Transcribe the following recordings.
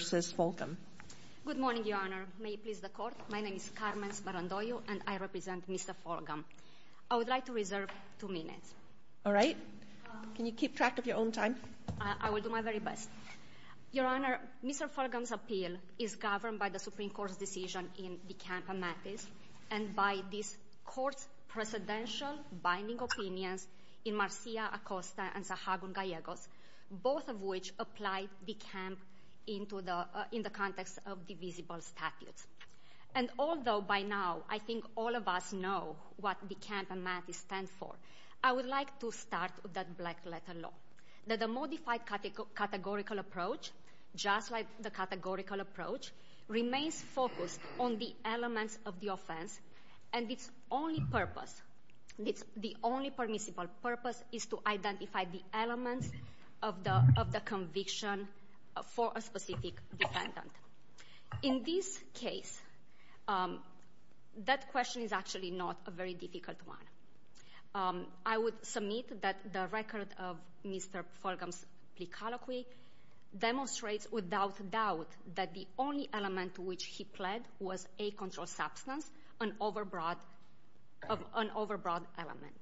Good morning, Your Honor. May it please the Court? My name is Carmen Sparandoyo and I represent Mr. Fulgham. I would like to reserve two minutes. All right. Can you keep track of your own time? I will do my very best. Your Honor, Mr. Fulgham's appeal is governed by the Supreme Court's decision in De Camp Amatis and by this Court's presidential binding opinions in Marcia, Acosta, and Sahagún Gallegos, both of which apply De Camp in the context of divisible statutes. And although by now I think all of us know what De Camp Amatis stands for, I would like to start with that black-letter law, that the modified categorical approach, just like the categorical approach, remains focused on the elements of the offense, and its only purpose, the only permissible purpose, is to identify the elements of the conviction for a specific defendant. In this case, that question is actually not a very difficult one. I would submit that the record of Mr. Fulgham's plea colloquy demonstrates without doubt that the only element to which he pled was a controlled substance, an overbroad element.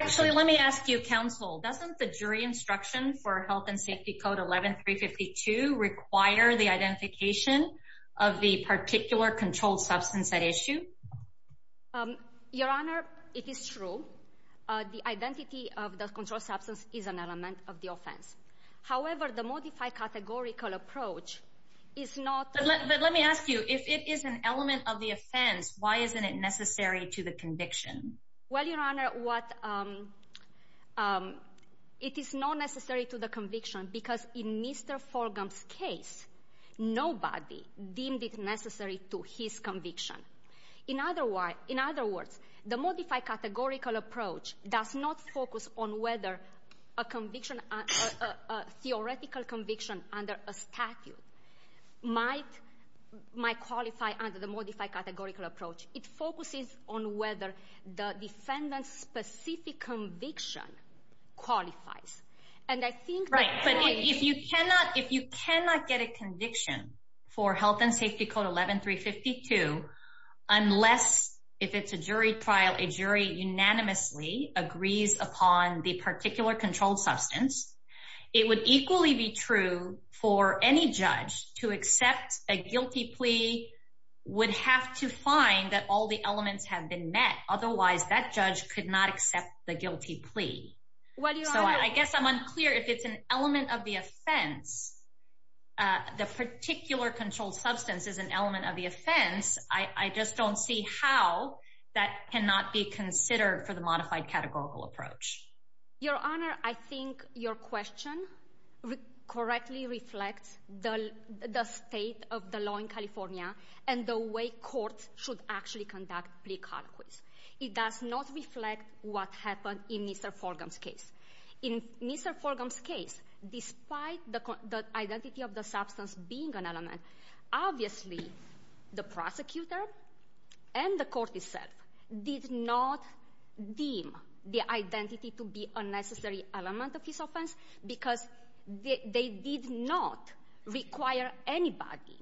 Actually, let me ask you, Counsel, doesn't the jury instruction for Health and Safety Code 11-352 require the identification of the particular controlled substance at issue? Your Honor, it is true. The identity of the controlled substance is an element of the offense. However, the modified categorical approach is not— But let me ask you, if it is an element of the offense, why isn't it necessary to the conviction? Well, Your Honor, it is not necessary to the conviction because in Mr. Fulgham's case, nobody deemed it necessary to his conviction. In other words, the modified categorical approach does not focus on whether a theoretical conviction under a statute might qualify under the modified categorical approach. It focuses on whether the defendant's specific conviction qualifies. Right, but if you cannot get a conviction for Health and Safety Code 11-352, unless, if it's a jury trial, a jury unanimously agrees upon the particular controlled substance, it would equally be true for any judge to accept a guilty plea would have to find that all the elements have been met. Otherwise, that judge could not accept the guilty plea. Well, Your Honor— So I guess I'm unclear if it's an element of the offense. The particular controlled substance is an element of the offense. I just don't see how that cannot be considered for the modified categorical approach. Your Honor, I think your question correctly reflects the state of the law in California and the way courts should actually conduct plea conquists. It does not reflect what happened in Mr. Forgham's case. In Mr. Forgham's case, despite the identity of the substance being an element, obviously the prosecutor and the court itself did not deem the identity to be a necessary element of his offense because they did not require anybody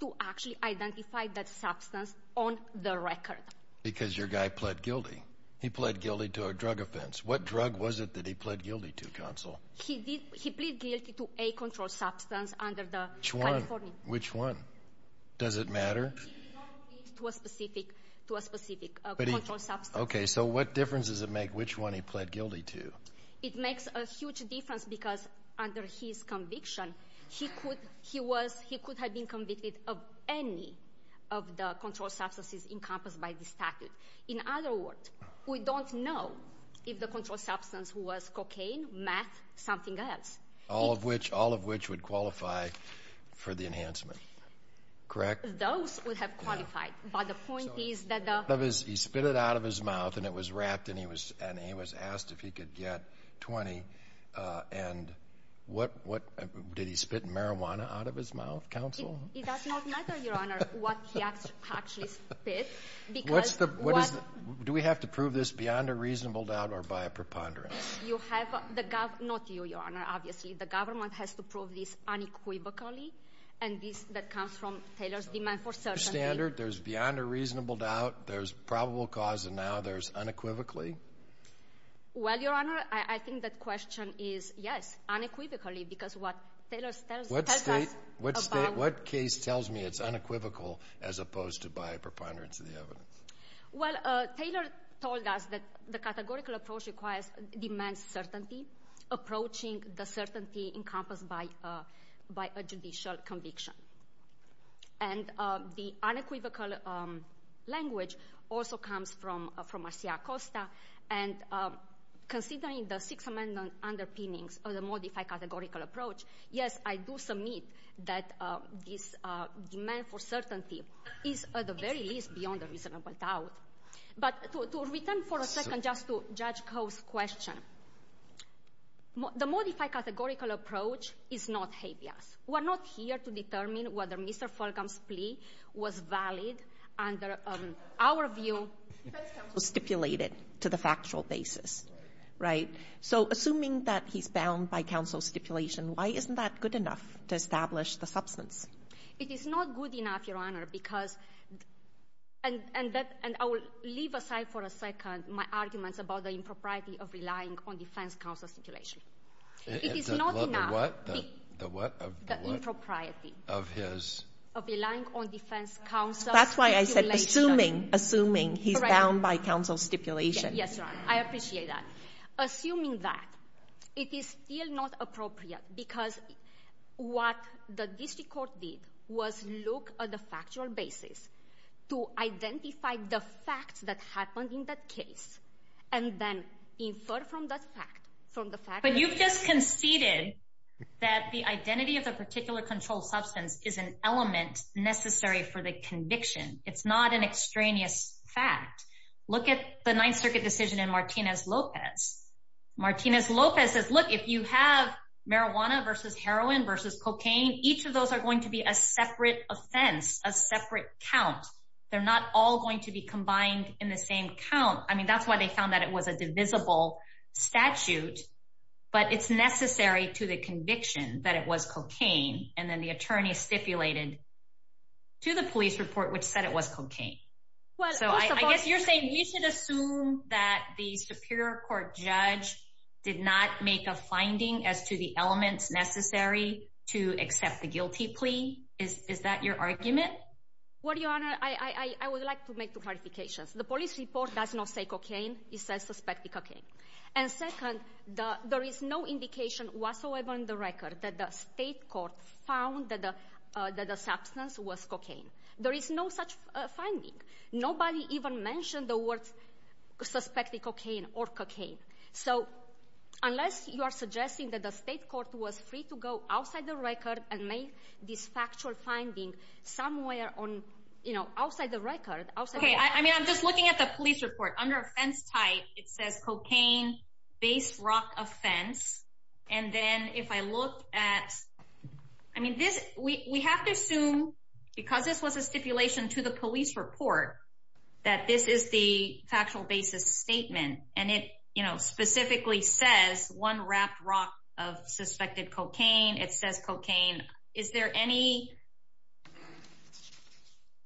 to actually identify that substance on the record. Because your guy pled guilty. He pled guilty to a drug offense. What drug was it that he pled guilty to, counsel? He plead guilty to a controlled substance under the California— Which one? Does it matter? He did not plead to a specific controlled substance. Okay, so what difference does it make which one he pled guilty to? It makes a huge difference because under his conviction, he could have been convicted of any of the controlled substances encompassed by the statute. In other words, we don't know if the controlled substance was cocaine, meth, something else. All of which would qualify for the enhancement, correct? Those would have qualified, but the point is that the— He spit it out of his mouth, and it was wrapped, and he was asked if he could get 20. And what—did he spit marijuana out of his mouth, counsel? It does not matter, Your Honor, what he actually spit because— What is the—do we have to prove this beyond a reasonable doubt or by a preponderance? You have—not you, Your Honor, obviously. The government has to prove this unequivocally, and this comes from Taylor's demand for certainty. Standard, there's beyond a reasonable doubt, there's probable cause, and now there's unequivocally? Well, Your Honor, I think that question is yes, unequivocally, because what Taylor tells us about— What case tells me it's unequivocal as opposed to by a preponderance of the evidence? Well, Taylor told us that the categorical approach requires immense certainty, approaching the certainty encompassed by a judicial conviction. And the unequivocal language also comes from Marcia Acosta, and considering the Sixth Amendment underpinnings of the modified categorical approach, yes, I do submit that this demand for certainty is at the very least beyond a reasonable doubt. But to return for a second just to Judge Koh's question, the modified categorical approach is not habeas. We're not here to determine whether Mr. Fulgham's plea was valid under our view. Defense counsel stipulated to the factual basis, right? So assuming that he's bound by counsel's stipulation, why isn't that good enough to establish the substance? It is not good enough, Your Honor, because—and I will leave aside for a second my arguments about the impropriety of relying on defense counsel's stipulation. It is not enough. The what? The what? The impropriety. Of his? Of relying on defense counsel's stipulation. That's why I said assuming, assuming he's bound by counsel's stipulation. Yes, Your Honor. I appreciate that. Assuming that, it is still not appropriate because what the district court did was look at the factual basis to identify the facts that happened in that case and then infer from that fact, from the fact— But you've just conceded that the identity of the particular controlled substance is an element necessary for the conviction. It's not an extraneous fact. Look at the Ninth Circuit decision in Martinez-Lopez. Martinez-Lopez says, look, if you have marijuana versus heroin versus cocaine, I mean, each of those are going to be a separate offense, a separate count. They're not all going to be combined in the same count. I mean, that's why they found that it was a divisible statute, but it's necessary to the conviction that it was cocaine. And then the attorney stipulated to the police report which said it was cocaine. I guess you're saying you should assume that the superior court judge did not make a finding as to the elements necessary to accept the guilty plea. Is that your argument? Well, Your Honor, I would like to make two clarifications. The police report does not say cocaine. It says suspected cocaine. And second, there is no indication whatsoever in the record that the state court found that the substance was cocaine. There is no such finding. Nobody even mentioned the word suspected cocaine or cocaine. So unless you are suggesting that the state court was free to go outside the record and make this factual finding somewhere on, you know, outside the record. Okay, I mean, I'm just looking at the police report. Under offense type, it says cocaine-based rock offense. And then if I look at, I mean, this, we have to assume, because this was a stipulation to the police report, that this is the factual basis statement. And it, you know, specifically says one wrapped rock of suspected cocaine. It says cocaine. Is there any...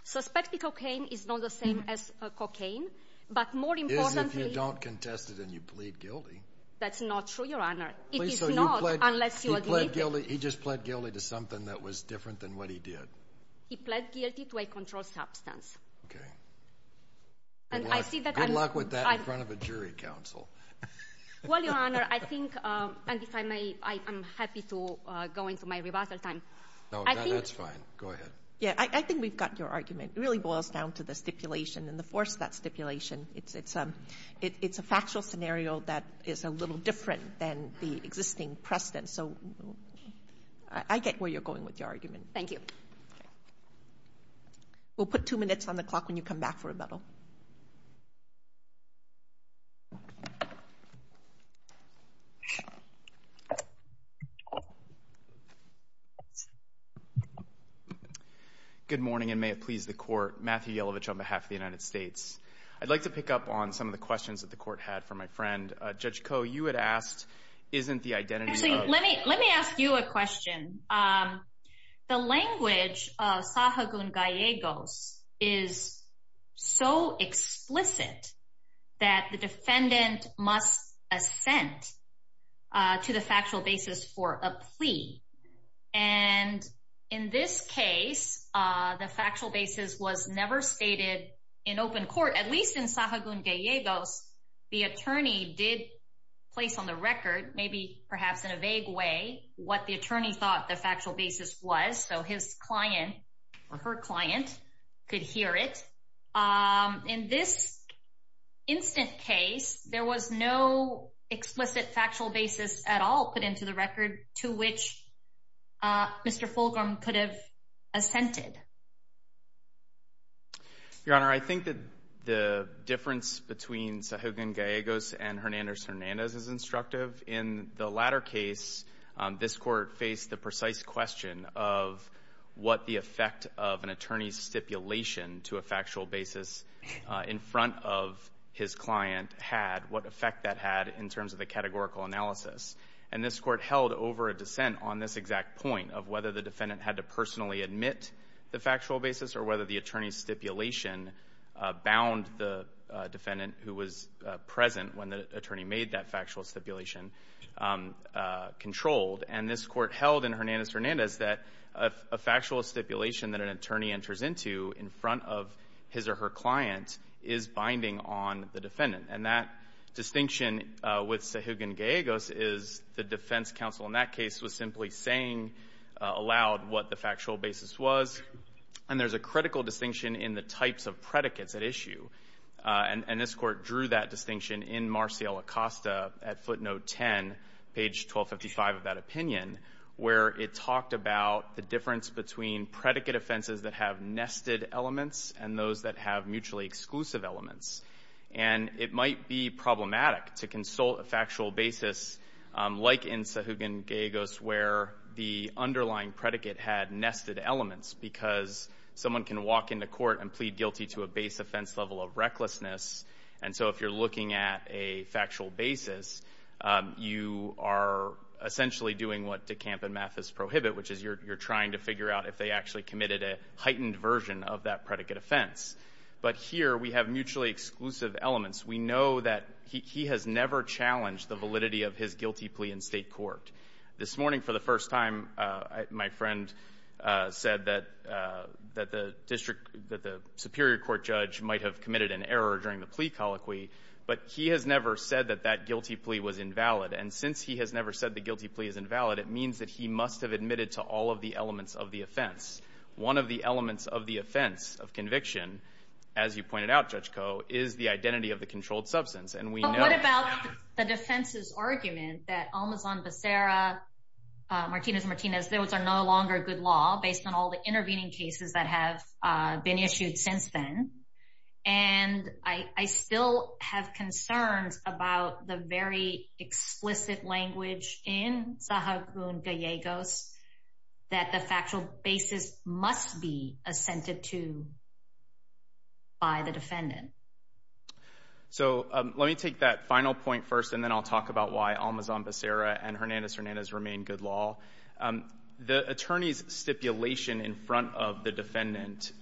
Suspected cocaine is not the same as cocaine. But more importantly... Is if you don't contest it and you plead guilty. That's not true, Your Honor. It is not, unless you admit it. He just pled guilty to something that was different than what he did. He pled guilty to a controlled substance. Okay. And I see that... Good luck with that in front of a jury council. Well, Your Honor, I think, and if I may, I am happy to go into my rebuttal time. No, that's fine. Go ahead. Yeah, I think we've gotten your argument. It really boils down to the stipulation and the force of that stipulation. It's a factual scenario that is a little different than the existing precedent. So I get where you're going with your argument. Thank you. Okay. We'll put two minutes on the clock when you come back for rebuttal. Good morning, and may it please the Court. Matthew Yelovich on behalf of the United States. I'd like to pick up on some of the questions that the Court had for my friend. Judge Koh, you had asked, isn't the identity of... Actually, let me ask you a question. The language of sahagun gallegos is so explicit that the defendant must assent to the factual basis for a plea. And in this case, the factual basis was never stated in open court. At least in sahagun gallegos, the attorney did place on the record, maybe perhaps in a vague way, what the attorney thought the factual basis was so his client or her client could hear it. In this instant case, there was no explicit factual basis at all put into the record to which Mr. Fulgram could have assented. Your Honor, I think that the difference between sahagun gallegos and Hernandez-Hernandez is instructive. In the latter case, this Court faced the precise question of what the effect of an attorney's stipulation to a factual basis in front of his client had, what effect that had in terms of the categorical analysis. And this Court held over a dissent on this exact point of whether the defendant had to personally admit the factual basis or whether the attorney's stipulation bound the defendant who was present when the attorney made that factual stipulation controlled. And this Court held in Hernandez-Hernandez that a factual stipulation that an attorney enters into in front of his or her client is binding on the defendant. And that distinction with sahagun gallegos is the defense counsel in that case was simply saying aloud what the factual basis was. And there's a critical distinction in the types of predicates at issue. And this Court drew that distinction in Marcial Acosta at footnote 10, page 1255 of that opinion, where it talked about the difference between predicate offenses that have nested elements and those that have mutually exclusive elements. And it might be problematic to consult a factual basis like in sahagun gallegos where the underlying predicate had nested elements because someone can walk into a court and plead guilty to a base offense level of recklessness. And so if you're looking at a factual basis, you are essentially doing what DeCamp and Mathis prohibit, which is you're trying to figure out if they actually committed a heightened version of that predicate offense. But here we have mutually exclusive elements. We know that he has never challenged the validity of his guilty plea in State court. This morning, for the first time, my friend said that the Superior Court judge might have committed an error during the plea colloquy. But he has never said that that guilty plea was invalid. And since he has never said the guilty plea is invalid, it means that he must have admitted to all of the elements of the offense. One of the elements of the offense of conviction, as you pointed out, Judge Koh, is the identity of the controlled substance. But what about the defense's argument that Almazan Becerra, Martinez-Martinez, those are no longer good law based on all the intervening cases that have been issued since then? And I still have concerns about the very explicit language in Zahagun-Gallegos that the factual basis must be assented to by the defendant. So let me take that final point first, and then I'll talk about why Almazan Becerra and Hernandez-Hernandez remain good law. The attorney's stipulation in front of the defendant,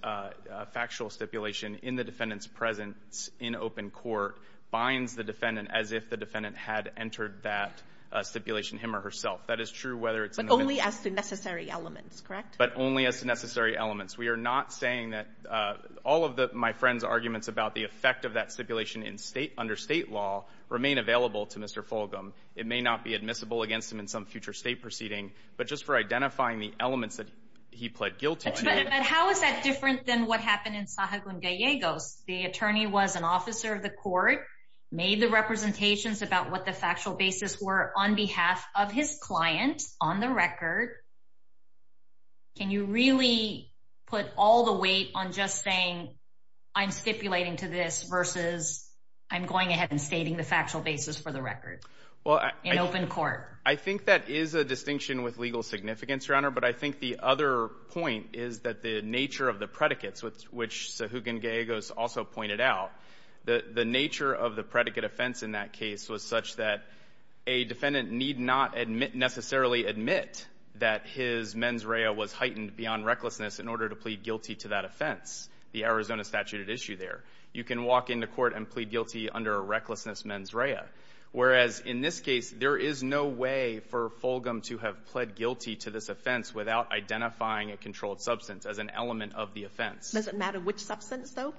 factual stipulation in the defendant's presence in open court, binds the defendant as if the defendant had entered that stipulation him or herself. That is true whether it's in the victim's presence. But only as the necessary elements, correct? But only as the necessary elements. We are not saying that all of my friend's arguments about the effect of that stipulation under state law remain available to Mr. Fulgham. It may not be admissible against him in some future state proceeding, but just for identifying the elements that he pled guilt to. But how is that different than what happened in Zahagun-Gallegos? The attorney was an officer of the court, made the representations about what the factual basis were on behalf of his client on the record. Can you really put all the weight on just saying I'm stipulating to this versus I'm going ahead and stating the factual basis for the record in open court? I think that is a distinction with legal significance, Your Honor. But I think the other point is that the nature of the predicates, which Zahagun-Gallegos also pointed out, the nature of the predicate offense in that case was such that a defendant need not necessarily admit that his mens rea was heightened beyond recklessness in order to plead guilty to that offense, the Arizona statute at issue there. You can walk into court and plead guilty under a recklessness mens rea, whereas in this case there is no way for Fulgham to have pled guilty to this offense without identifying a controlled substance as an element of the offense. Does it matter which substance, though?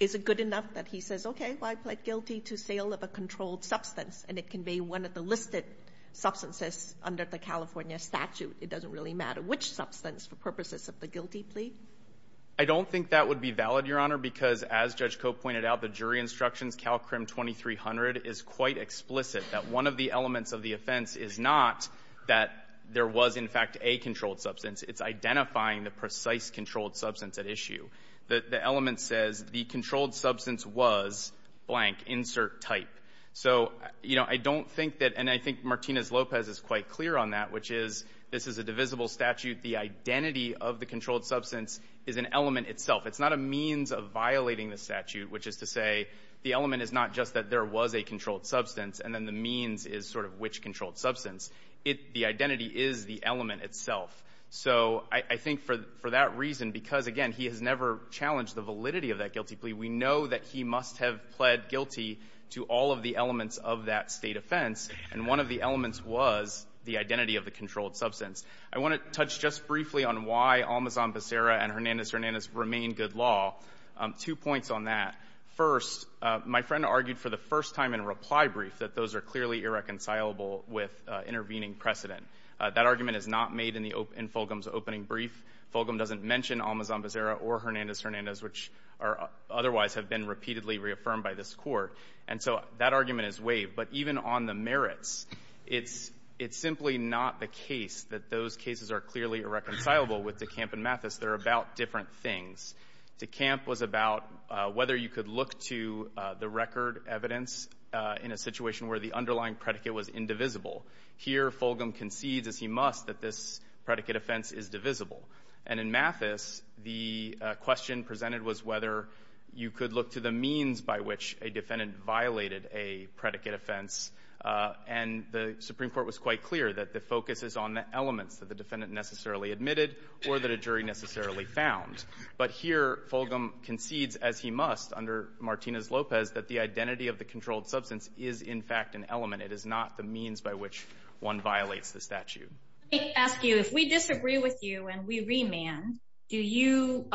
Is it good enough that he says, okay, well, I pled guilty to sale of a controlled substance, and it can be one of the listed substances under the California statute? It doesn't really matter which substance for purposes of the guilty plea? I don't think that would be valid, Your Honor, because as Judge Cope pointed out, the jury instructions, Calcrim 2300, is quite explicit that one of the elements of the offense is not that there was, in fact, a controlled substance. It's identifying the precise controlled substance at issue. The element says the controlled substance was blank, insert type. So, you know, I don't think that, and I think Martinez-Lopez is quite clear on that, which is this is a divisible statute. The identity of the controlled substance is an element itself. It's not a means of violating the statute, which is to say the element is not just that there was a controlled substance, and then the means is sort of which controlled substance. It the identity is the element itself. So I think for that reason, because, again, he has never challenged the validity of that guilty plea. We know that he must have pled guilty to all of the elements of that State offense, and one of the elements was the identity of the controlled substance. I want to touch just briefly on why Almazan-Becerra and Hernandez-Hernandez remain good law. Two points on that. First, my friend argued for the first time in a reply brief that those are clearly irreconcilable with intervening precedent. That argument is not made in the open – in Fulgham's opening brief. Fulgham doesn't mention Almazan-Becerra or Hernandez-Hernandez, which are otherwise have been repeatedly reaffirmed by this Court. And so that argument is waived. But even on the merits, it's – it's simply not the case that those cases are clearly irreconcilable with DeCamp and Mathis. They're about different things. DeCamp was about whether you could look to the record evidence in a situation where the underlying predicate was indivisible. Here, Fulgham concedes, as he must, that this predicate offense is divisible. And in Mathis, the question presented was whether you could look to the means by which a defendant violated a predicate offense. And the Supreme Court was quite clear that the focus is on the elements that the defendant necessarily admitted or that a jury necessarily found. But here, Fulgham concedes, as he must, under Martinez-Lopez, that the identity of the controlled substance is, in fact, an element. It is not the means by which one violates the statute. Let me ask you, if we disagree with you and we remand, do you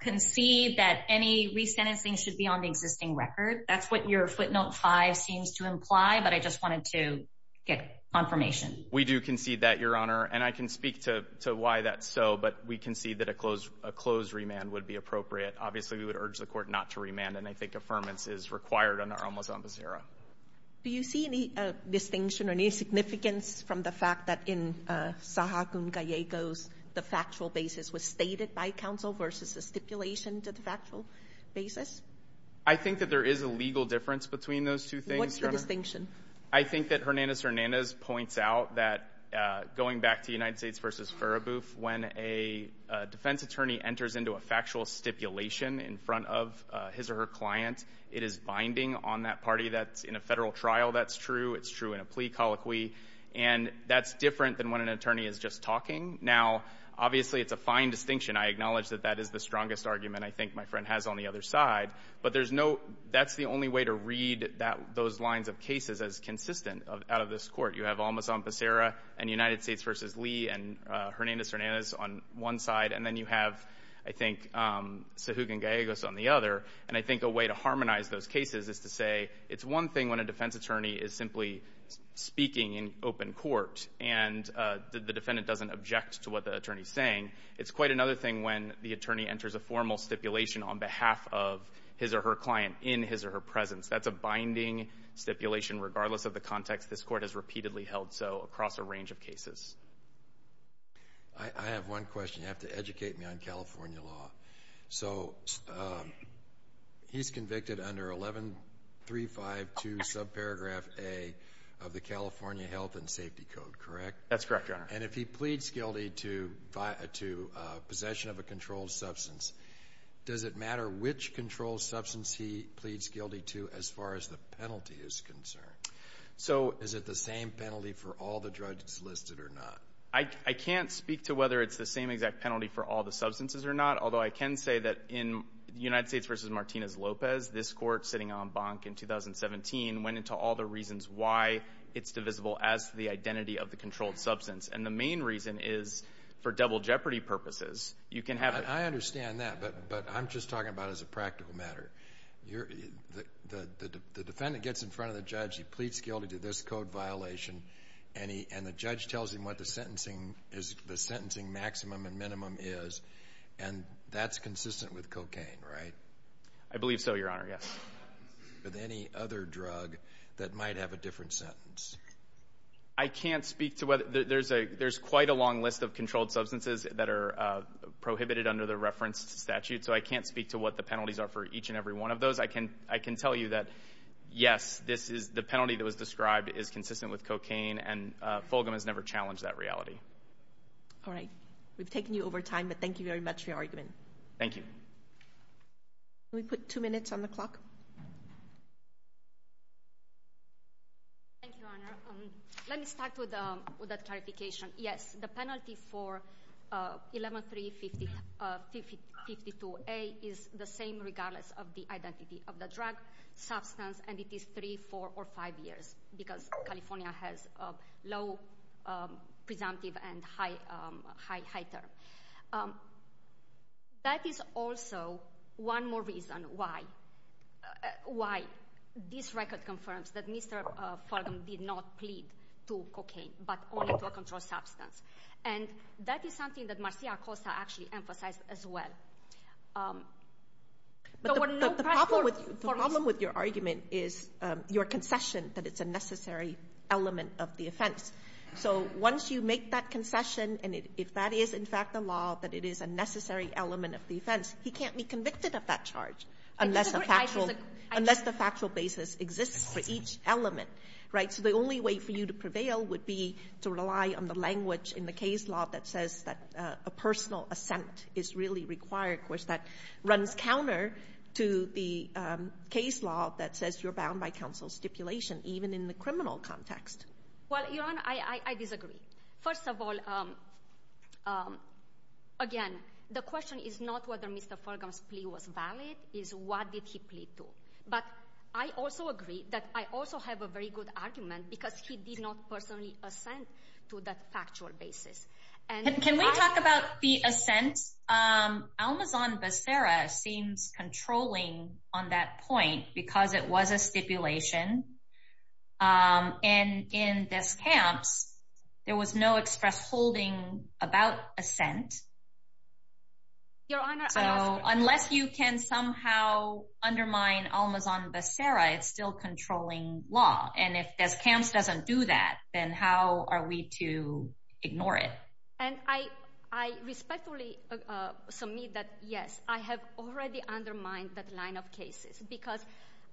concede that any resentencing should be on the existing record? That's what your footnote 5 seems to imply. But I just wanted to get confirmation. We do concede that, Your Honor. And I can speak to why that's so. But we concede that a closed – a closed remand would be appropriate. Obviously, we would urge the Court not to remand. And I think affirmance is required under Homo samba sera. Do you see any distinction or any significance from the fact that in Saha Gun Gallego's, the factual basis was stated by counsel versus the stipulation to the factual basis? I think that there is a legal difference between those two things, Your Honor. What's the distinction? I think that Hernandez-Hernandez points out that going back to United States v. Furabuf, when a defense attorney enters into a factual stipulation in front of his or her client, it is binding on that party that's in a federal trial. That's true. It's true in a plea colloquy. And that's different than when an attorney is just talking. Now, obviously, it's a fine distinction. I acknowledge that that is the strongest argument I think my friend has on the other side. But there's no – that's the only way to read that – those lines of cases as consistent out of this Court. You have Homo samba sera and United States v. Lee and Hernandez-Hernandez on one side. And then you have, I think, Saha Gun Gallego's on the other. And I think a way to harmonize those cases is to say it's one thing when a defense attorney is simply speaking in open court and the defendant doesn't object to what the attorney is saying. It's quite another thing when the attorney enters a formal stipulation on behalf of his or her client in his or her presence. That's a binding stipulation regardless of the context. This Court has repeatedly held so across a range of cases. I have one question. You have to educate me on California law. So he's convicted under 11352 subparagraph A of the California Health and Safety Code, correct? That's correct, Your Honor. And if he pleads guilty to possession of a controlled substance, does it matter which controlled substance he pleads guilty to as far as the penalty is concerned? So is it the same penalty for all the drugs listed or not? I can't speak to whether it's the same exact penalty for all the substances or not, although I can say that in United States v. Martinez-Lopez, this Court sitting en banc in 2017 went into all the reasons why it's divisible as the identity of the controlled substance. And the main reason is for double jeopardy purposes. You can have it. I understand that, but I'm just talking about it as a practical matter. The defendant gets in front of the judge. He pleads guilty to this code violation, and the judge tells him what the sentencing maximum and minimum is. And that's consistent with cocaine, right? I believe so, Your Honor, yes. With any other drug that might have a different sentence? I can't speak to whether there's quite a long list of controlled substances that are prohibited under the reference statute, so I can't speak to what the penalties are for each and every one of those. I can tell you that, yes, the penalty that was described is consistent with cocaine, and Fulgham has never challenged that reality. All right. We've taken you over time, but thank you very much for your argument. Thank you. Can we put two minutes on the clock? Thank you, Your Honor. Let me start with that clarification. Yes, the penalty for 11-3-52A is the same regardless of the identity of the drug, substance, and it is three, four, or five years, because California has low presumptive and high term. That is also one more reason why this record confirms that Mr. Fulgham did not plead to cocaine, but only to a controlled substance. And that is something that Marcia Acosta actually emphasized as well. But the problem with your argument is your concession that it's a necessary element of the offense. So once you make that concession, and if that is, in fact, the law, that it is a necessary element of the offense, he can't be convicted of that charge unless the factual basis exists for each element, right? So the only way for you to prevail would be to rely on the language in the case law that says that a personal assent is really required, which that runs counter to the case law that says you're bound by counsel's stipulation, even in the criminal context. Well, Your Honor, I disagree. First of all, again, the question is not whether Mr. Fulgham's plea was valid. It's what did he plead to. But I also agree that I also have a very good argument because he did not personally assent to that factual basis. Can we talk about the assent? Almazan-Bacera seems controlling on that point because it was a stipulation. And in Descamps, there was no express holding about assent. Your Honor— So unless you can somehow undermine Almazan-Bacera, it's still controlling law. And if Descamps doesn't do that, then how are we to ignore it? And I respectfully submit that, yes, I have already undermined that line of cases because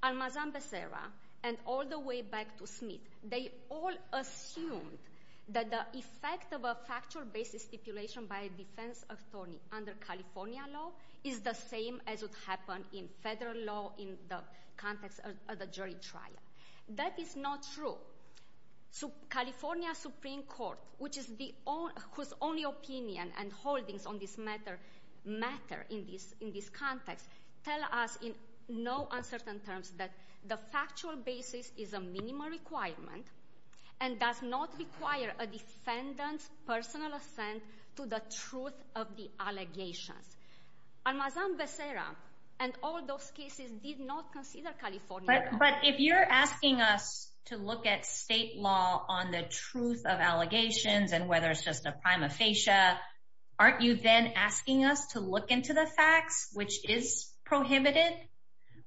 Almazan-Bacera and all the way back to Smith, they all assumed that the effect of a factual basis stipulation by a defense attorney under California law is the same as would happen in federal law in the context of the jury trial. That is not true. California Supreme Court, whose only opinion and holdings on this matter in this context, tell us in no uncertain terms that the factual basis is a minimal requirement and does not require a defendant's personal assent to the truth of the allegations. Almazan-Bacera and all those cases did not consider California— But if you're asking us to look at state law on the truth of allegations and whether it's just a prima facie, aren't you then asking us to look into the facts, which is prohibited?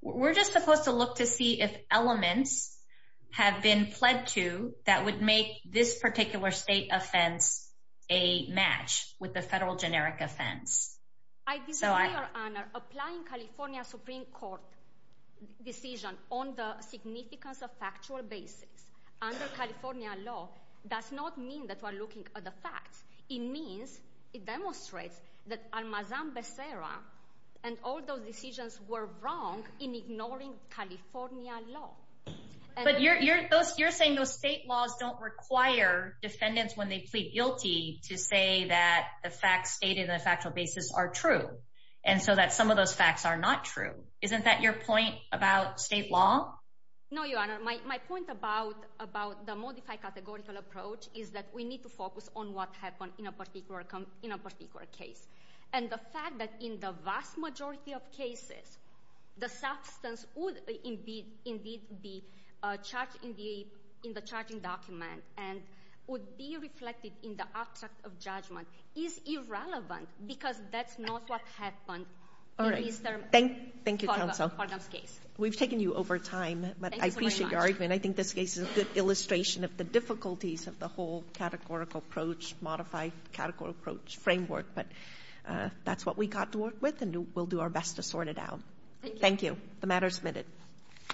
We're just supposed to look to see if elements have been pled to that would make this particular state offense a match with the federal generic offense. I disagree, Your Honor. Applying California Supreme Court decision on the significance of factual basis under California law does not mean that we're looking at the facts. It means, it demonstrates that Almazan-Bacera and all those decisions were wrong in ignoring California law. But you're saying those state laws don't require defendants when they plead guilty to say that the facts stated in the factual basis are true, and so that some of those facts are not true. Isn't that your point about state law? No, Your Honor. My point about the modified categorical approach is that we need to focus on what happened in a particular case. And the fact that in the vast majority of cases, the substance would indeed be charged in the document and would be reflected in the abstract of judgment is irrelevant because that's not what happened in Mr. Cardam's case. We've taken you over time, but I appreciate your argument. I think this case is a good illustration of the difficulties of the whole categorical approach, modified categorical approach framework. But that's what we got to work with, and we'll do our best to sort it out. Thank you. The matter is submitted.